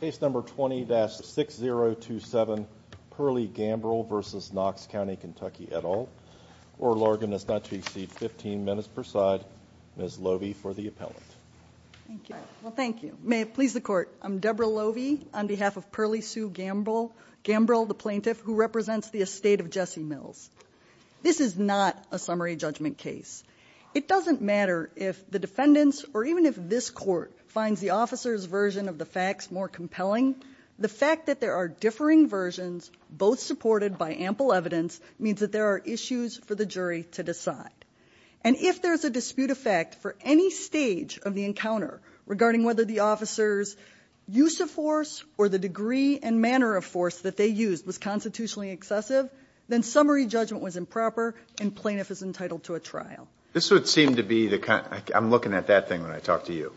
Case number 20-6027, Perlie Gambrel v. Knox County KY et al. Oral argument is not to exceed 15 minutes per side. Ms. Lovie for the appellant. Thank you. May it please the court, I'm Deborah Lovie on behalf of Perlie Sue Gambrel, Gambrel the plaintiff who represents the estate of Jesse Mills. This is not a summary judgment case. It doesn't matter if the defendants or even if this court finds the officer's version of the facts more compelling. The fact that there are differing versions both supported by ample evidence means that there are issues for the jury to decide. And if there's a dispute effect for any stage of the encounter regarding whether the officer's use of force or the degree and manner of force that they used was constitutionally excessive, then summary judgment was improper and plaintiff is entitled to a trial. This would seem to be the kind, I'm looking at that thing when I talk to you.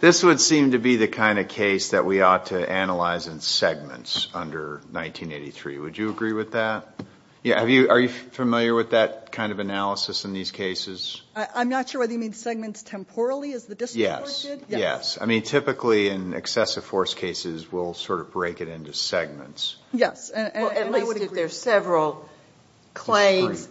This would seem to be the kind of case that we ought to analyze in segments under 1983. Would you agree with that? Yeah, have you, are you familiar with that kind of analysis in these cases? I'm not sure whether you mean segments temporally as the district did. Yes, I mean typically in excessive force cases, we'll sort of break it into segments. Yes, and I would agree. Several claims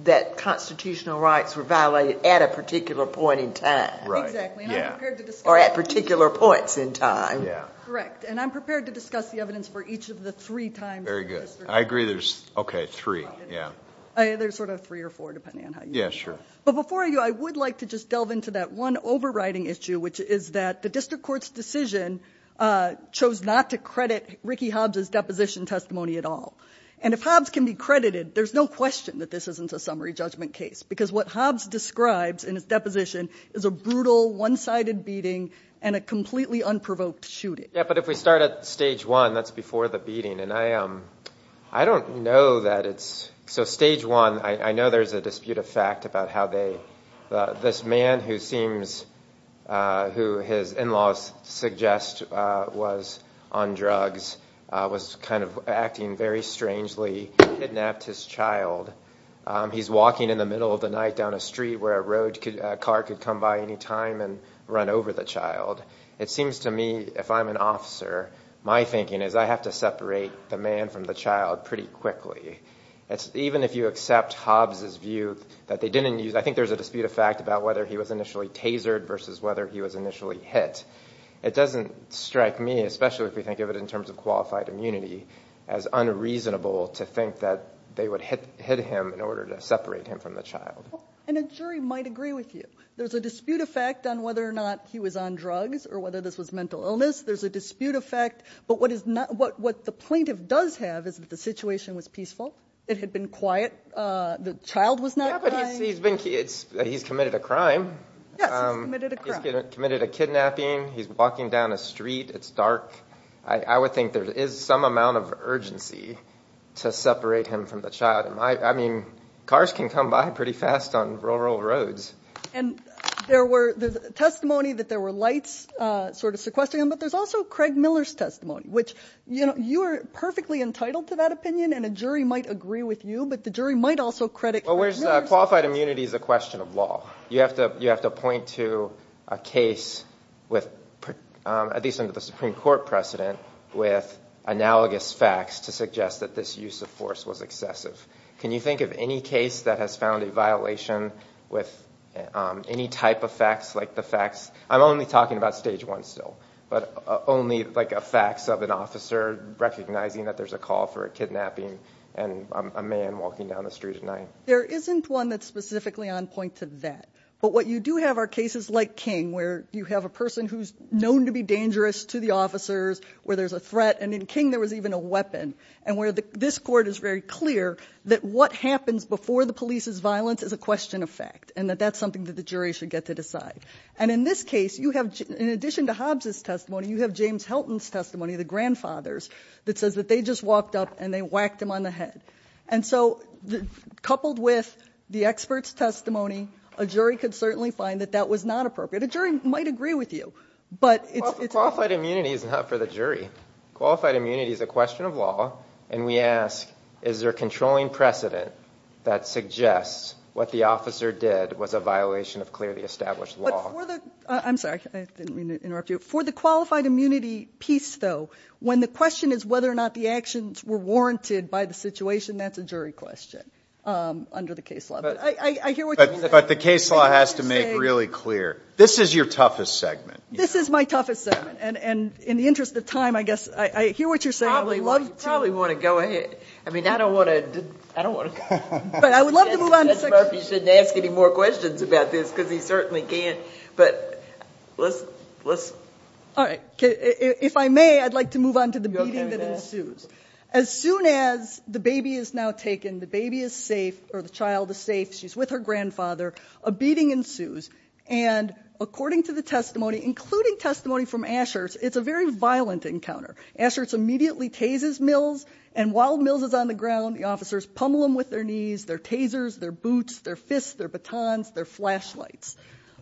that constitutional rights were violated at a particular point in time. Or at particular points in time. Yeah, correct. And I'm prepared to discuss the evidence for each of the three times. Very good. I agree there's, okay, three. Yeah, there's sort of three or four depending on how you. Yeah, sure. But before you, I would like to just delve into that one overriding issue, which is that the district court's decision chose not to credit Ricky Hobbs's deposition testimony at all. And if Hobbs can be credited, there's no question that this isn't a summary judgment case. Because what Hobbs describes in his deposition is a brutal one-sided beating and a completely unprovoked shooting. Yeah, but if we start at stage one, that's before the beating. And I don't know that it's, so stage one, I know there's a dispute of fact about how they, this man who seems, who his in-laws suggest was on drugs, was kind of acting very strangely, kidnapped his child. He's walking in the middle of the night down a street where a road, a car could come by any time and run over the child. It seems to me, if I'm an officer, my thinking is I have to separate the man from the child pretty quickly. Even if you accept Hobbs's view that they didn't use, I think there's a dispute of fact about whether he was initially tasered versus whether he was initially hit. It doesn't strike me, especially if we think of it in terms of qualified immunity, as unreasonable to think that they would hit him in order to separate him from the child. And a jury might agree with you. There's a dispute of fact on whether or not he was on drugs or whether this was mental illness. There's a dispute of fact. But what the plaintiff does have is that the situation was peaceful. It had been quiet. The child was not crying. Yeah, but he's been, he's committed a crime. Yes, he's committed a crime. Committed a kidnapping. He's walking down a street. It's dark. I would think there is some amount of urgency to separate him from the child. I mean, cars can come by pretty fast on rural roads. And there were, there's testimony that there were lights sort of sequestering him. But there's also Craig Miller's testimony, which, you know, you are perfectly entitled to that opinion. And a jury might agree with you. But the jury might also credit... Well, where's, qualified immunity is a question of law. You have to, you have to point to a case with, at least under the Supreme Court precedent, with analogous facts to suggest that this use of force was excessive. Can you think of any case that has found a violation with any type of facts like the facts? I'm only talking about stage one still, but only like a facts of an officer recognizing that there's a call for a kidnapping and a man walking down the street at night. There isn't one that's specifically on point to that. But what you do have are cases like King, where you have a person who's known to be dangerous to the officers, where there's a threat. And in King, there was even a weapon. And where the, this court is very clear that what happens before the police's violence is a question of fact. And that that's something that the jury should get to decide. And in this case, you have, in addition to Hobbs's testimony, you have James Helton's testimony, the grandfather's, that says that they just walked up and they whacked him on the head. And so coupled with the expert's testimony, a jury could certainly find that that was not appropriate. A jury might agree with you, but it's- Qualified immunity is not for the jury. Qualified immunity is a question of law. And we ask, is there a controlling precedent that suggests what the officer did was a violation of clearly established law? But for the, I'm sorry, I didn't mean to interrupt you. For the qualified immunity piece though, when the question is whether or not the actions were warranted by the situation, that's a jury question under the case law. But I hear what you're saying. But the case law has to make really clear, this is your toughest segment. This is my toughest segment. And in the interest of time, I guess, I hear what you're saying. I would love to- Probably want to go ahead. I mean, I don't want to, I don't want to go. But I would love to move on to- Judge Murphy shouldn't ask any more questions about this, because he certainly can't. But let's, let's- If I may, I'd like to move on to the beating that ensues. As soon as the baby is now taken, the baby is safe, or the child is safe, she's with her grandfather, a beating ensues. And according to the testimony, including testimony from Asher's, it's a very violent encounter. Asher's immediately tases Mills. And while Mills is on the ground, the officers pummel him with their knees, their tasers, their boots, their fists, their batons, their flashlights.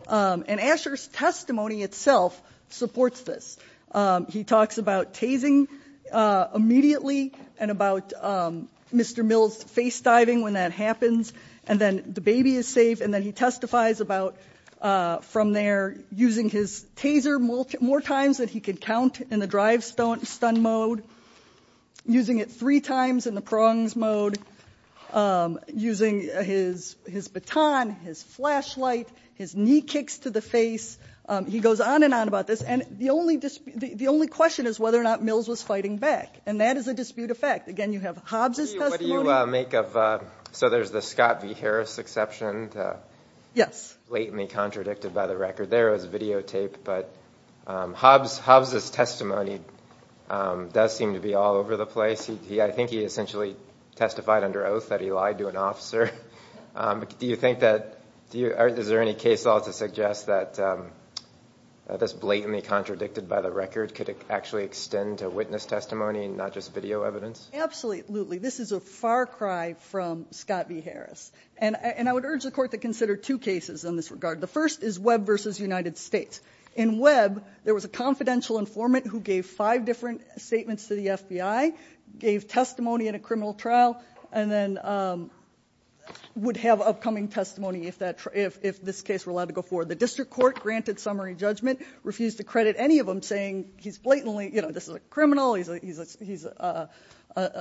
And Asher's testimony itself supports this. He talks about tasing immediately, and about Mr. Mills' face-diving when that happens. And then the baby is safe. And then he testifies about, from there, using his taser more times than he could count in the drive stun mode. Using it three times in the prongs mode. Using his baton, his flashlight, his knee kicks to the face. He goes on and on about this. And the only dispute, the only question is whether or not Mills was fighting back. And that is a dispute of fact. Again, you have Hobbs' testimony- What do you make of, so there's the Scott v. Harris exception. Yes. Blatantly contradicted by the record there. It was videotaped. But Hobbs, Hobbs' testimony does seem to be all over the place. I think he essentially testified under oath that he lied to an officer. Do you think that, is there any case at all to suggest that this blatantly contradicted by the record could actually extend to witness testimony, not just video evidence? Absolutely. This is a far cry from Scott v. Harris. And I would urge the court to consider two cases in this regard. The first is Webb v. United States. In Webb, there was a confidential informant who gave five different statements to the FBI. Gave testimony in a criminal trial. And then would have upcoming testimony if this case were allowed to go forward. The district court granted summary judgment. Refused to credit any of them saying he's blatantly, you know, this is a criminal. He's a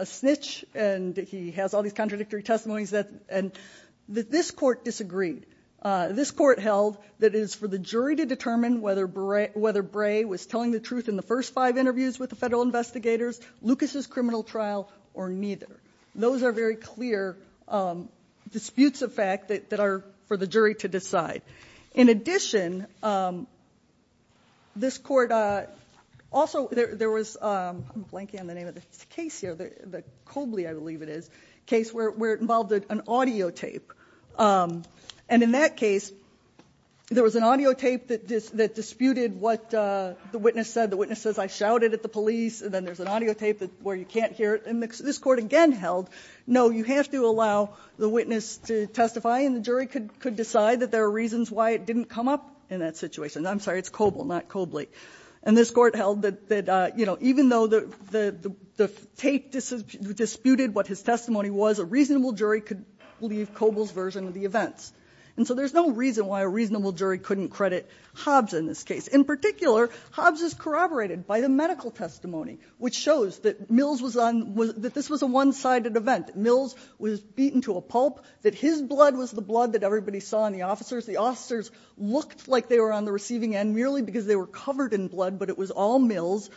snitch. And he has all these contradictory testimonies. And this court disagreed. This court held that it is for the jury to determine whether Bray was telling the truth in the first five interviews with the federal investigators. Lucas's criminal trial or neither. Those are very clear disputes of fact that are for the jury to decide. In addition, this court also, there was, I'm blanking on the name of the case here, the Cobley, I believe it is, case where it involved an audio tape. And in that case, there was an audio tape that disputed what the witness said. The witness says, I shouted at the police. And then there's an audio tape where you can't hear it. And this court again held, no, you have to allow the witness to testify. And the jury could decide that there are reasons why it didn't come up in that situation. I'm sorry, it's Coble, not Cobley. And this court held that, you know, even though the tape disputed what his testimony was, a reasonable jury could believe Coble's version of the events. And so there's no reason why a reasonable jury couldn't credit Hobbs in this case. In particular, Hobbs is corroborated by the medical testimony, which shows that Mills was on, that this was a one-sided event. Mills was beaten to a pulp, that his blood was the blood that everybody saw in the officers. The officers looked like they were on the receiving end merely because they were covered in blood, but it was all Mills.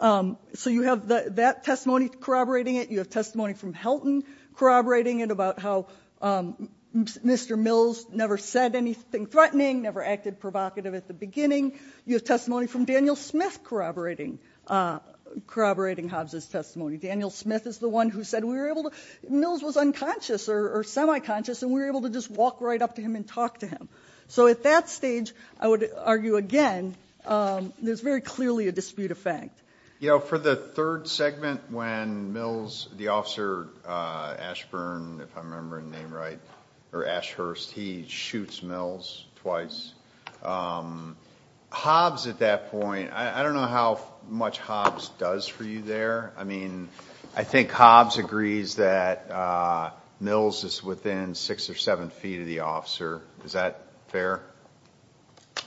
So you have that testimony corroborating it. You have testimony from Helton corroborating it about how Mr. Mills never said anything threatening, never acted provocative at the beginning. You have testimony from Daniel Smith corroborating Hobbs' testimony. Daniel Smith is the one who said we were able to, Mills was unconscious or semi-conscious, and we were able to just walk right up to him and talk to him. So at that stage, I would argue again, there's very clearly a dispute of fact. You know, for the third segment when Mills, the officer Ashburn, if I remember his name right, or Ashhurst, he shoots Mills twice. Hobbs at that point, I don't know how much Hobbs does for you there. I mean, I think Hobbs agrees that Mills is within six or seven feet of the officer. Is that fair?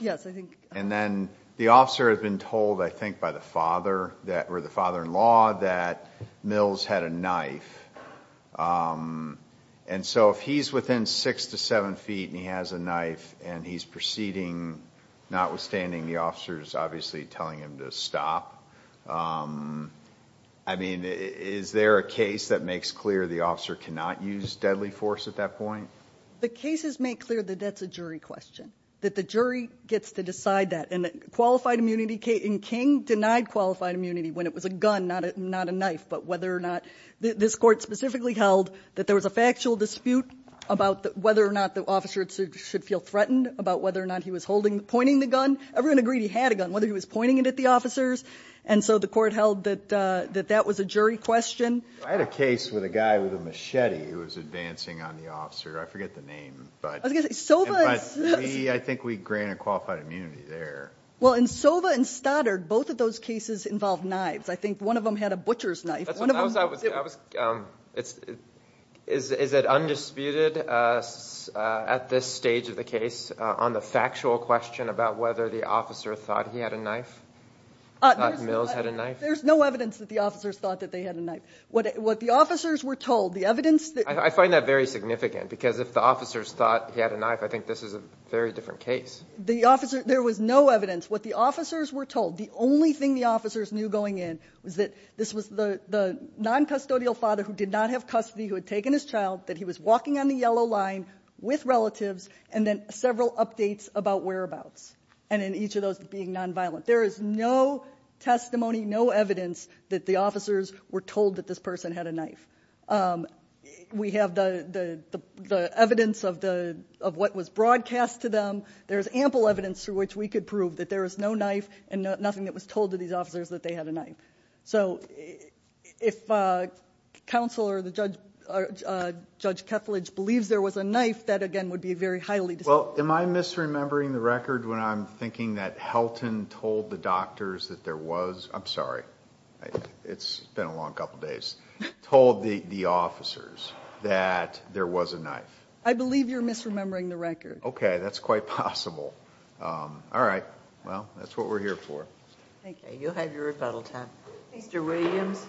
Yes, I think. And then the officer has been told, I think, by the father or the father-in-law that Mills had a knife. And so if he's within six to seven feet and he has a knife and he's proceeding, notwithstanding the officer's obviously telling him to stop, I mean, is there a case that makes clear the officer cannot use deadly force at that point? The cases make clear that that's a jury question, that the jury gets to decide that. And qualified immunity, King denied qualified immunity when it was a gun, not a knife. But whether or not this court specifically held that there was a factual dispute about whether or not the officer should feel threatened about whether or not he was pointing the gun. Everyone agreed he had a gun, whether he was pointing it at the officers. And so the court held that that was a jury question. I had a case with a guy with a machete who was advancing on the officer. I forget the name, but I think we granted qualified immunity there. Well, in Sova and Stoddard, both of those cases involved knives. I think one of them had a butcher's knife. Is it undisputed at this stage of the case on the factual question about whether the officer thought he had a knife, thought Mills had a knife? There's no evidence that the officers thought that they had a knife. What the officers were told, the evidence... I find that very significant because if the officers thought he had a knife, I think this is a very different case. There was no evidence. What the officers were told, the only thing the officers knew going in, was that this was the noncustodial father who did not have custody, who had taken his child, that he was walking on the yellow line with relatives, and then several updates about whereabouts, and in each of those being nonviolent. There is no testimony, no evidence that the officers were told that this person had a knife. We have the evidence of what was broadcast to them. There is ample evidence through which we could prove that there was no knife and nothing that was told to these officers that they had a knife. If counsel or Judge Keflage believes there was a knife, that again would be very highly disputed. Am I misremembering the record when I'm thinking that Helton told the doctors that there was... I'm sorry. It's been a long couple of days. Told the officers that there was a knife. I believe you're misremembering the record. Okay. That's quite possible. All right. Well, that's what we're here for. Thank you. You'll have your rebuttal time. Mr. Williams.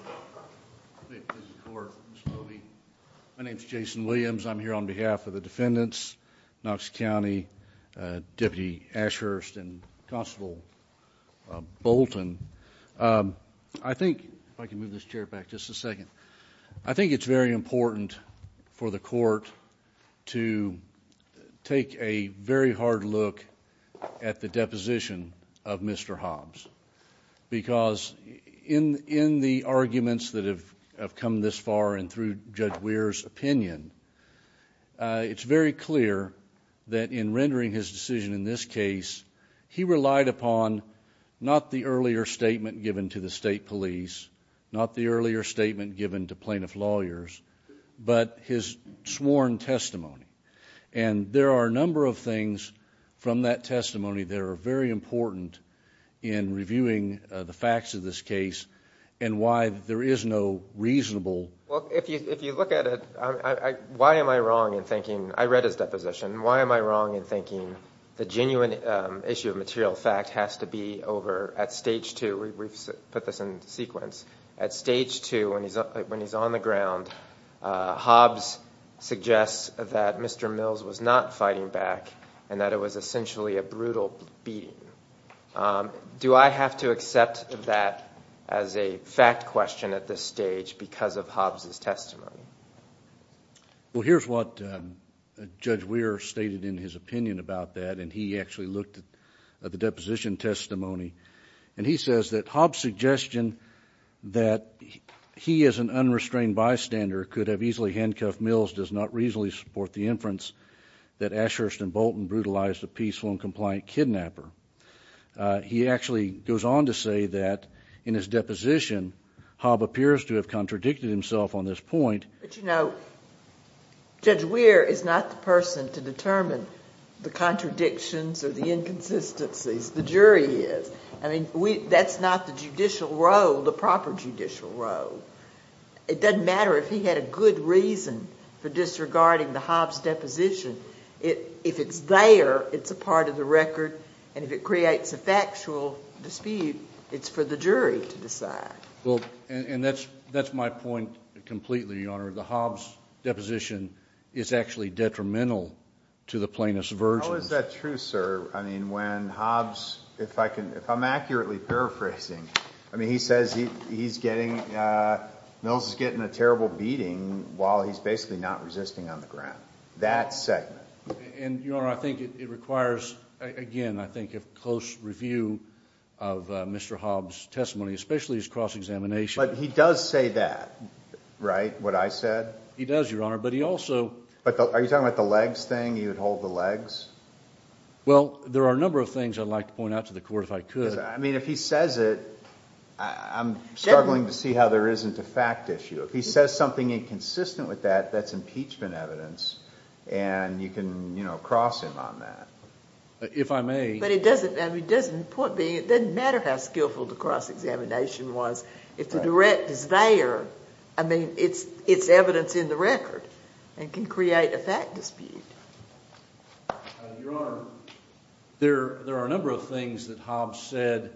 My name is Jason Williams. I'm here on behalf of the defendants, Knox County, Deputy Ashurst and Constable Bolton. I think, if I can move this chair back just a second, I think it's very important for the court to take a very hard look at the deposition of Mr. Hobbs because in the arguments that have come this far and through Judge Weir's opinion, it's very clear that in rendering his decision in this case, he relied upon not the earlier statement given to the state sworn testimony. And there are a number of things from that testimony that are very important in reviewing the facts of this case and why there is no reasonable... Well, if you look at it, why am I wrong in thinking... I read his deposition. Why am I wrong in thinking the genuine issue of material fact has to be over at stage two? We've put this in sequence. At stage two, when he's on the ground, Hobbs suggests that Mr. Mills was not fighting back and that it was essentially a brutal beating. Do I have to accept that as a fact question at this stage because of Hobbs' testimony? Well, here's what Judge Weir stated in his opinion about that, and he actually looked at the deposition testimony. And he says that Hobbs' suggestion that he as an unrestrained bystander could have easily handcuffed Mills does not reasonably support the inference that Ashurst and Bolton brutalized a peaceful and compliant kidnapper. He actually goes on to say that in his deposition, Hobbs appears to have contradicted himself on this point. But, you know, Judge Weir is not the person to determine the contradictions or the inconsistencies. The jury is. I mean, that's not the judicial role, the proper judicial role. It doesn't matter if he had a good reason for disregarding the Hobbs' deposition. If it's there, it's a part of the record. And if it creates a factual dispute, it's for the jury to decide. Well, and that's my point completely, Your Honor. The Hobbs' deposition is actually detrimental to the Plaintiff's version. How is that true, sir? I mean, when Hobbs, if I can, if I'm accurately paraphrasing, I mean, he says he's getting, Mills is getting a terrible beating while he's basically not resisting on the ground. That segment. And, Your Honor, I think it requires, again, I think a close review of Mr. Hobbs' testimony, especially his cross-examination. But he does say that, right? What I said. He does, Your Honor. But he also. But are you talking about the legs thing? He would hold the legs? Well, there are a number of things I'd like to point out to the Court if I could. I mean, if he says it, I'm struggling to see how there isn't a fact issue. If he says something inconsistent with that, that's impeachment evidence. And you can, you know, cross him on that. If I may. But it doesn't, I mean, it doesn't matter how skillful the cross-examination was. If the direct is there, I mean, it's evidence in the record and can create a fact dispute. Your Honor, there are a number of things that Hobbs said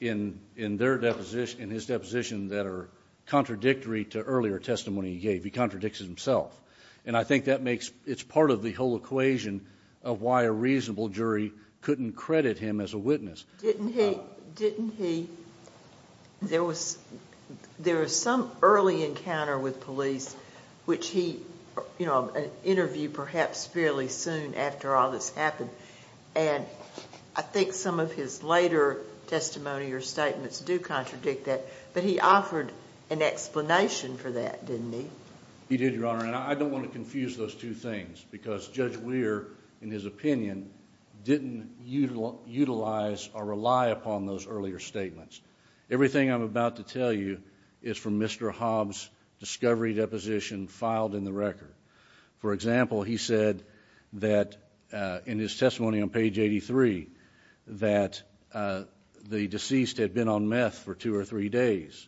in their deposition, in his deposition, that are contradictory to earlier testimony he gave. He contradicts himself. And I think that makes, it's part of the whole equation of why a reasonable jury couldn't credit him as a witness. Didn't he, didn't he, there was some early encounter with police which he, you know, an interview perhaps fairly soon after all this happened. And I think some of his later testimony or statements do contradict that. But he offered an explanation for that, didn't he? He did, Your Honor. And I don't want to confuse those two things. Because Judge Weir, in his opinion, didn't utilize or rely upon those earlier statements. Everything I'm about to tell you is from Mr. Hobbs' discovery deposition filed in the record. For example, he said that in his testimony on page 83, that the deceased had been on meth for two or three days.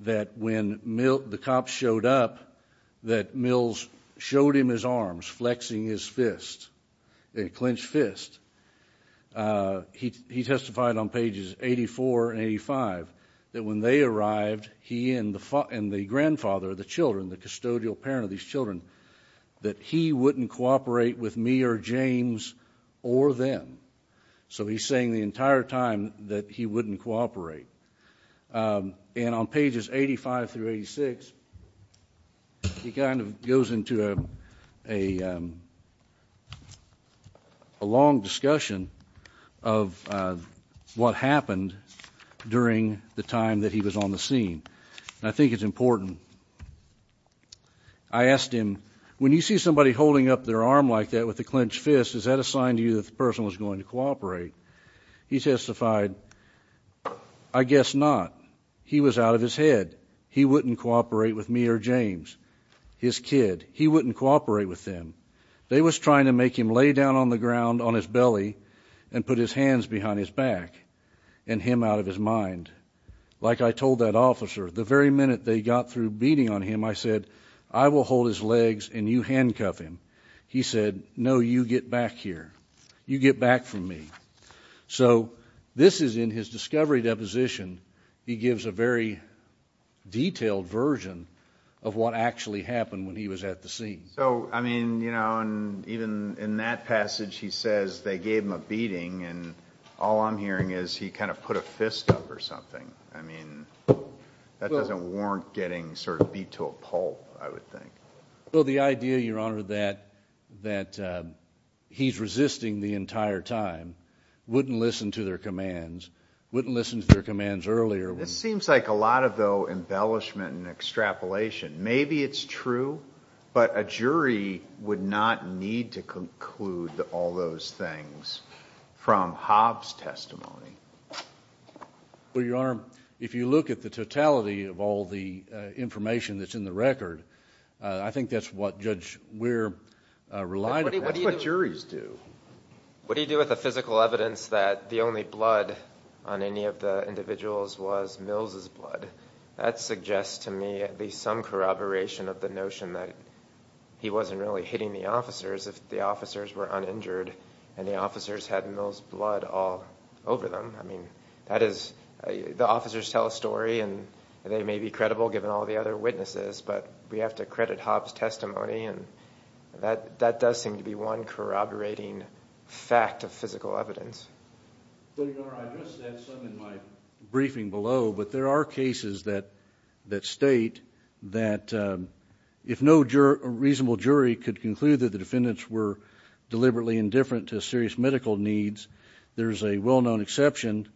That when the cops showed up, that Mills showed him his arms, flexing his fist, a clenched fist. He testified on pages 84 and 85 that when they arrived, he and the grandfather of the children, the custodial parent of these children, that he wouldn't cooperate with me or James or them. So he's saying the entire time that he wouldn't cooperate. And on pages 85 through 86, he kind of goes into a long discussion of what happened during the time that he was on the scene. And I think it's important. I asked him, when you see somebody holding up their arm like that with a clenched fist, is that a sign to you that the person was going to cooperate? He testified, I guess not. He was out of his head. He wouldn't cooperate with me or James, his kid. He wouldn't cooperate with them. They was trying to make him lay down on the ground on his belly and put his hands behind his back and him out of his mind. Like I told that officer, the very minute they got through beating on him, I said, I will hold his legs and you handcuff him. He said, no, you get back here. You get back from me. So this is in his discovery deposition. He gives a very detailed version of what actually happened when he was at the scene. So, I mean, you know, and even in that passage, he says they gave him a beating and all I'm hearing is he kind of put a fist up or something. I mean, that doesn't warrant getting sort of beat to a pulp, I would think. Well, the idea, Your Honor, that he's resisting the entire time, wouldn't listen to their commands, wouldn't listen to their commands earlier. It seems like a lot of though embellishment and extrapolation. Maybe it's true, but a jury would not need to conclude all those things from Hobbs' testimony. Well, Your Honor, if you look at the totality of all the information that's in the record, I think that's what, Judge, we're relying on. That's what juries do. What do you do with the physical evidence that the only blood on any of the individuals was Mills' blood? That suggests to me at least some corroboration of the notion that he wasn't really hitting the officers if the officers were uninjured and the officers had Mills' blood all over them. I mean, that is, the officers tell a story and they may be credible given all the other witnesses, but we have to credit Hobbs' testimony. And that does seem to be one corroborating fact of physical evidence. So, Your Honor, I addressed that some in my briefing below, but there are cases that state that if no reasonable jury could conclude that the defendants were deliberately indifferent to serious medical needs, there's a well-known exception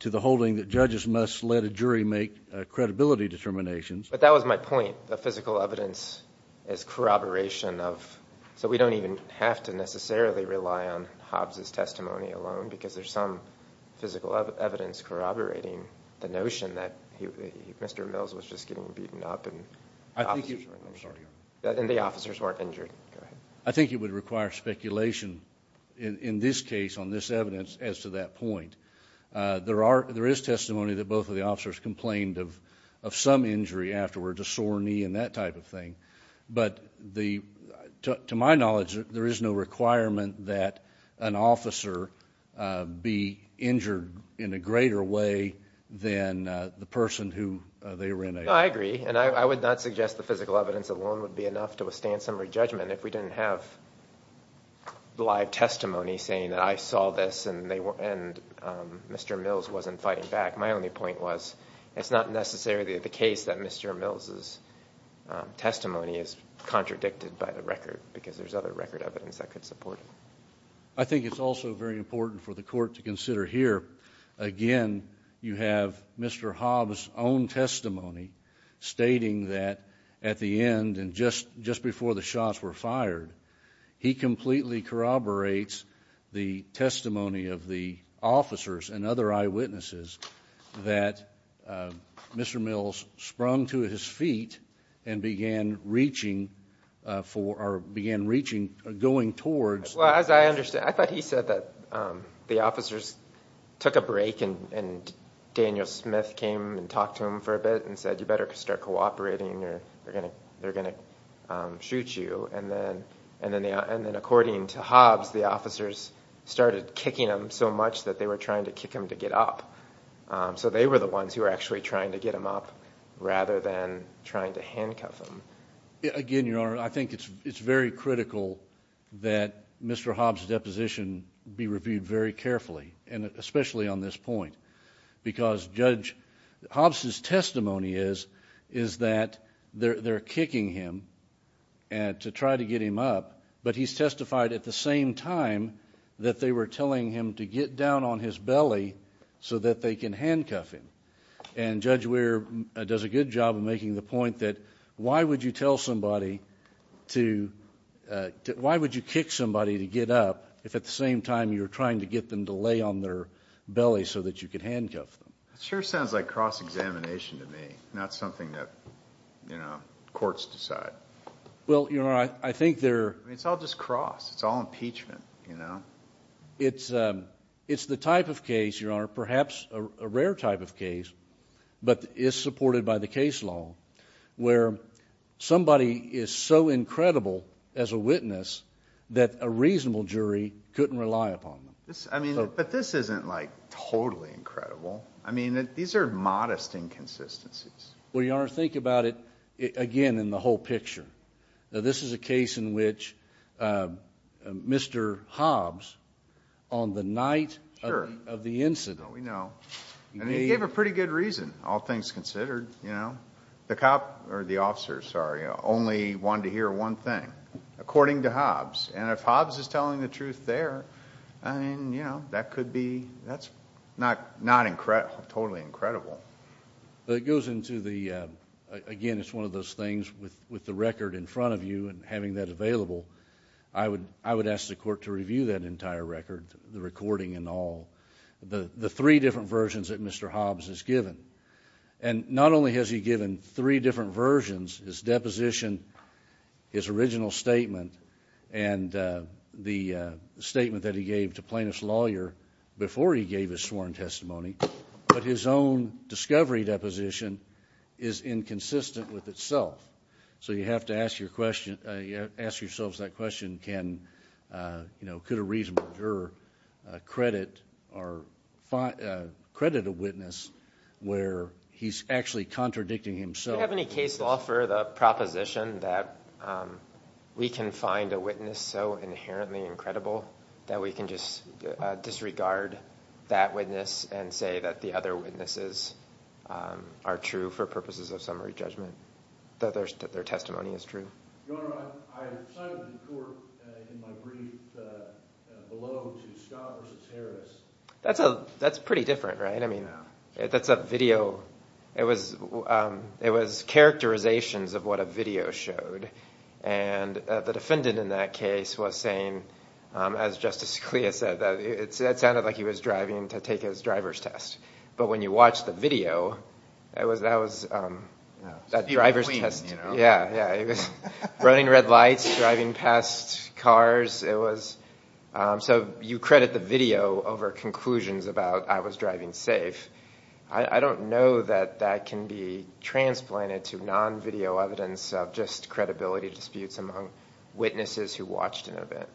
to the holding that judges must let a jury make credibility determinations. But that was my point. The physical evidence is corroboration of, so we don't even have to necessarily rely on Hobbs' testimony alone because there's some physical evidence corroborating the notion that Mr. Mills was just getting beaten up and the officers weren't injured. I think it would require speculation in this case on this evidence as to that point. There is testimony that both of the officers complained of some injury afterwards, a sore knee and that type of thing. But to my knowledge, there is no requirement that an officer be injured in a greater way than the person who they were in a... No, I agree. And I would not suggest the physical evidence alone would be enough to withstand summary judgment if we didn't have live testimony saying that I saw this and Mr. Mills wasn't fighting back. My only point was it's not necessarily the case that Mr. Mills' testimony is contradicted by the record because there's other record evidence that could support it. I think it's also very important for the court to consider here. Again, you have Mr. Hobbs' own testimony stating that at the end and just before the shots were fired, he completely corroborates the testimony of the officers and other eyewitnesses that Mr. Mills sprung to his feet and began reaching for or began reaching or going towards... Well, as I understand, I thought he said that the officers took a break and Daniel Smith came and talked to him for a bit and said, you better start cooperating or they're going to shoot you. And then according to Hobbs, the officers started kicking him so much that they were the ones who were actually trying to get him up rather than trying to handcuff him. Again, Your Honor, I think it's very critical that Mr. Hobbs' deposition be reviewed very carefully and especially on this point because Judge Hobbs' testimony is that they're kicking him to try to get him up, but he's testified at the same time that they were telling him to get down on his belly so that they can handcuff him. And Judge Weir does a good job of making the point that why would you tell somebody to... Why would you kick somebody to get up if at the same time you're trying to get them to lay on their belly so that you can handcuff them? It sure sounds like cross-examination to me, not something that, you know, courts decide. Well, Your Honor, I think they're... I mean, it's all just cross. It's all impeachment, you know? It's the type of case, Your Honor, perhaps a rare type of case, but is supported by the case law where somebody is so incredible as a witness that a reasonable jury couldn't rely upon them. I mean, but this isn't like totally incredible. I mean, these are modest inconsistencies. Well, Your Honor, think about it again in the whole picture. Now, this is a case in which Mr. Hobbs, on the night of the incident... We know. And he gave a pretty good reason, all things considered, you know? The cop, or the officer, sorry, only wanted to hear one thing, according to Hobbs. And if Hobbs is telling the truth there, I mean, you know, that could be... That's not totally incredible. But it goes into the... Again, it's one of those things with the record in front of you and having that available, I would ask the court to review that entire record, the recording and all, the three different versions that Mr. Hobbs has given. And not only has he given three different versions, his deposition, his original statement, and the statement that he gave to plaintiff's lawyer before he gave his sworn testimony, but his own discovery deposition is inconsistent with that. And I would ask yourselves that question. Could a reasonable juror credit a witness where he's actually contradicting himself? Do you have any case law for the proposition that we can find a witness so inherently incredible that we can just disregard that witness and say that the other witnesses are true for purposes of summary judgment, that their testimony is true? Your Honor, I cited the court in my brief below to Scott versus Harris. That's pretty different, right? I mean, that's a video. It was characterizations of what a video showed. And the defendant in that case was saying, as Justice Scalia said, that it sounded like he was driving to take his driver's test. But when you watch the video, that was that driver's test. Running red lights, driving past cars. So you credit the video over conclusions about I was driving safe. I don't know that that can be transplanted to non-video evidence of just credibility disputes among witnesses who watched an event.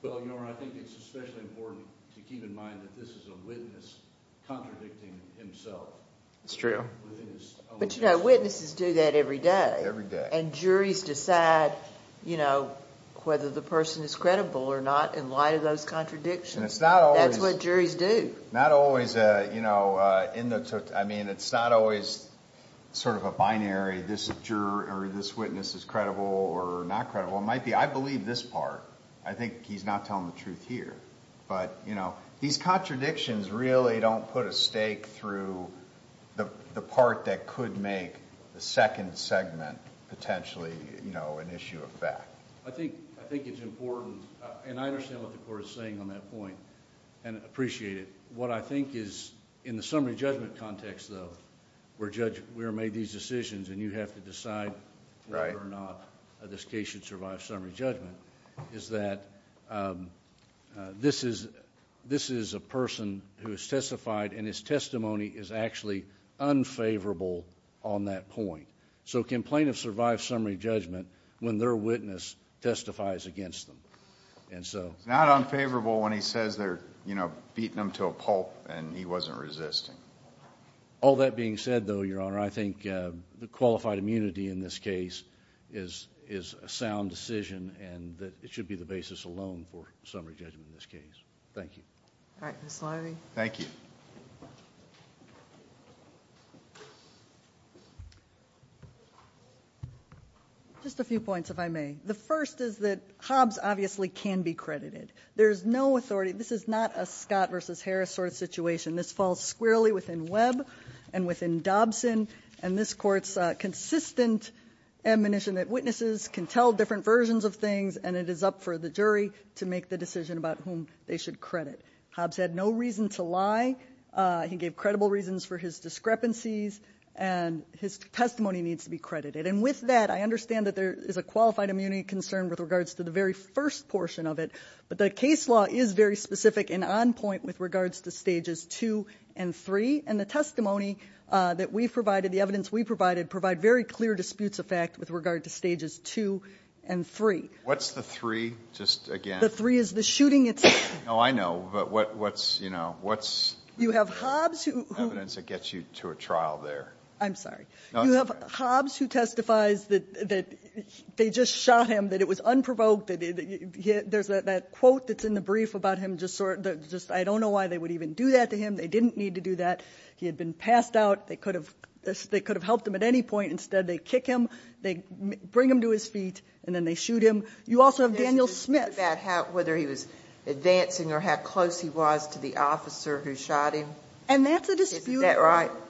Well, Your Honor, I think it's especially important to keep in mind that this is a witness contradicting himself. It's true. But you know, juries decide whether the person is credible or not in light of those contradictions. That's what juries do. Not always. I mean, it's not always sort of a binary. This witness is credible or not credible. It might be. I believe this part. I think he's not telling the truth here. But these contradictions really don't put a stake through the part that could make the second segment potentially, you know, an issue of fact. I think it's important. And I understand what the court is saying on that point and appreciate it. What I think is in the summary judgment context, though, where we are made these decisions and you have to decide whether or not this case should survive summary judgment, is that this is a person who has testified and his so complain of survived summary judgment when their witness testifies against them. And so not unfavorable when he says they're beating him to a pulp and he wasn't resisting all that being said, though, Your Honor, I think the qualified immunity in this case is is a sound decision and that it should be the basis alone for summary judgment. Thank you. Thank you. Just a few points, if I may. The first is that Hobbs obviously can be credited. There's no authority. This is not a Scott versus Harris sort of situation. This falls squarely within Webb and within Dobson. And this court's consistent admonition that witnesses can tell different versions of things and it is up for the jury to make the decision about whom they should credit. Hobbs had no reason to lie. He gave credible reasons for his discrepancies and his testimony needs to be credited. And with that, I understand that there is a qualified immunity concern with regards to the very first portion of it. But the case law is very specific and on point with regards to stages two and three. And the testimony that we've provided, the evidence we provided, provide very clear disputes of fact with regard to stages two and three. What's the three? Just again, the three is the shooting. It's oh, I know. But what's you know, what's you have Hobbs who evidence that gets you to a trial there? I'm sorry. You have Hobbs who testifies that they just shot him, that it was unprovoked. There's that quote that's in the brief about him just sort of just I don't know why they would even do that to him. They could have helped him at any point. Instead, they kick him, they bring him to his feet, and then they shoot him. You also have Daniel Smith. Ginsburg. Yes, the dispute about whether he was advancing or how close he was to the officer who shot him. Hobbs. And that's a dispute. Ginsburg. Isn't that right? Hobbs.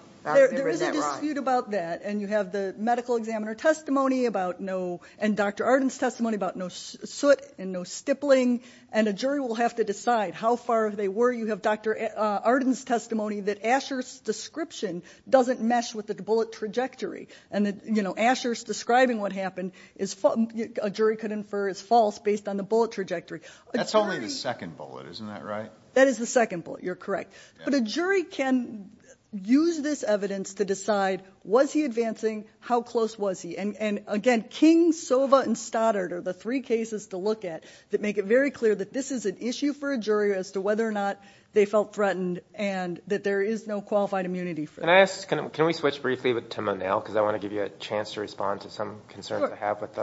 There is a dispute about that. And you have the medical examiner testimony about no, and Dr. Arden's testimony about no soot and no stippling. And a jury will have to decide how far they were. You have Dr. Arden's testimony that Asher's description doesn't mesh with the bullet trajectory. And you know, Asher's describing what happened is a jury could infer is false based on the bullet trajectory. Hobbs. That's only the second bullet. Isn't that right? Ginsburg. That is the second bullet. You're correct. But a jury can use this evidence to decide, was he advancing? How close was he? And again, King, Sova, and Stoddard are the three cases to look at that make it very clear that this is an issue for a jury as to whether or not they felt threatened and that there is no qualified immunity for Can we switch briefly to Monell? Because I want to give you a chance to respond to some concerns I have with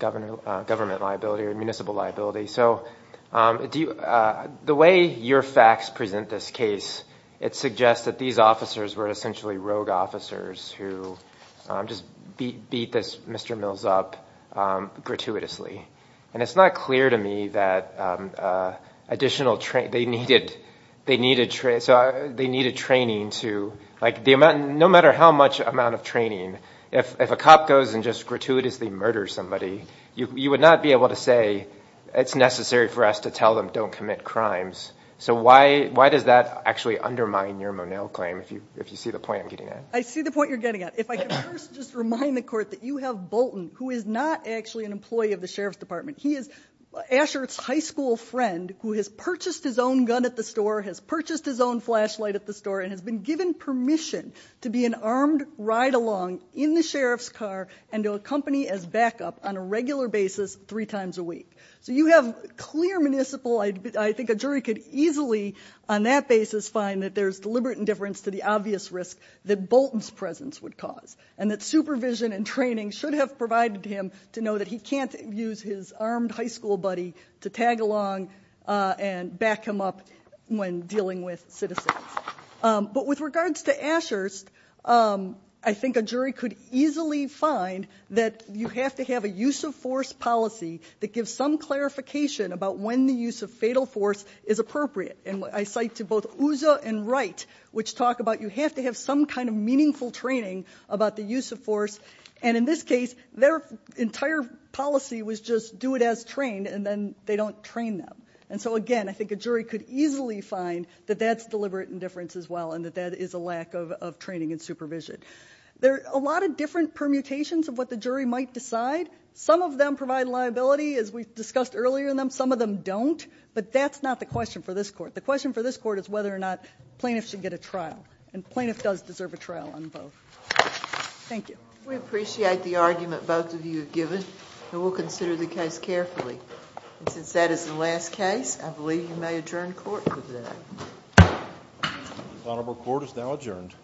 government liability or municipal liability. So the way your facts present this case, it suggests that these officers were essentially rogue officers who just beat this Mr. Mills up gratuitously. And it's not clear to me that additional training, they needed. So they needed training to like the amount, no matter how much amount of training, if a cop goes and just gratuitously murder somebody, you would not be able to say it's necessary for us to tell them don't commit crimes. So why does that actually undermine your Monell claim? If you see the point I'm getting at? I see the point you're getting at. If I could first just remind the court that you have Bolton, who is not actually an employee of the Sheriff's Department. He is a high school friend who has purchased his own gun at the store, has purchased his own flashlight at the store and has been given permission to be an armed ride along in the sheriff's car and to accompany as backup on a regular basis three times a week. So you have clear municipal, I think a jury could easily on that basis find that there's deliberate indifference to the obvious risk that Bolton's presence would cause and that supervision and training should have provided him to know that he can't use his armed high school buddy to tag along and back him up when dealing with citizens. But with regards to Ashurst, I think a jury could easily find that you have to have a use of force policy that gives some clarification about when the use of fatal force is appropriate. And I cite to both Uzza and Wright, which talk about you have to have some kind of meaningful training about the use of force. And in this case, their entire policy was just do it as trained and then they don't train them. And so again, I think a jury could easily find that that's deliberate indifference as well and that that is a lack of training and supervision. There are a lot of different permutations of what the jury might decide. Some of them provide liability as we discussed earlier in them. Some of them don't. But that's not the question for this court. The question for this court is whether or not plaintiff does deserve a trial on both. Thank you. We appreciate the argument both of you have given and we'll consider the case carefully. And since that is the last case, I believe you may adjourn court for today. Honorable court is now adjourned.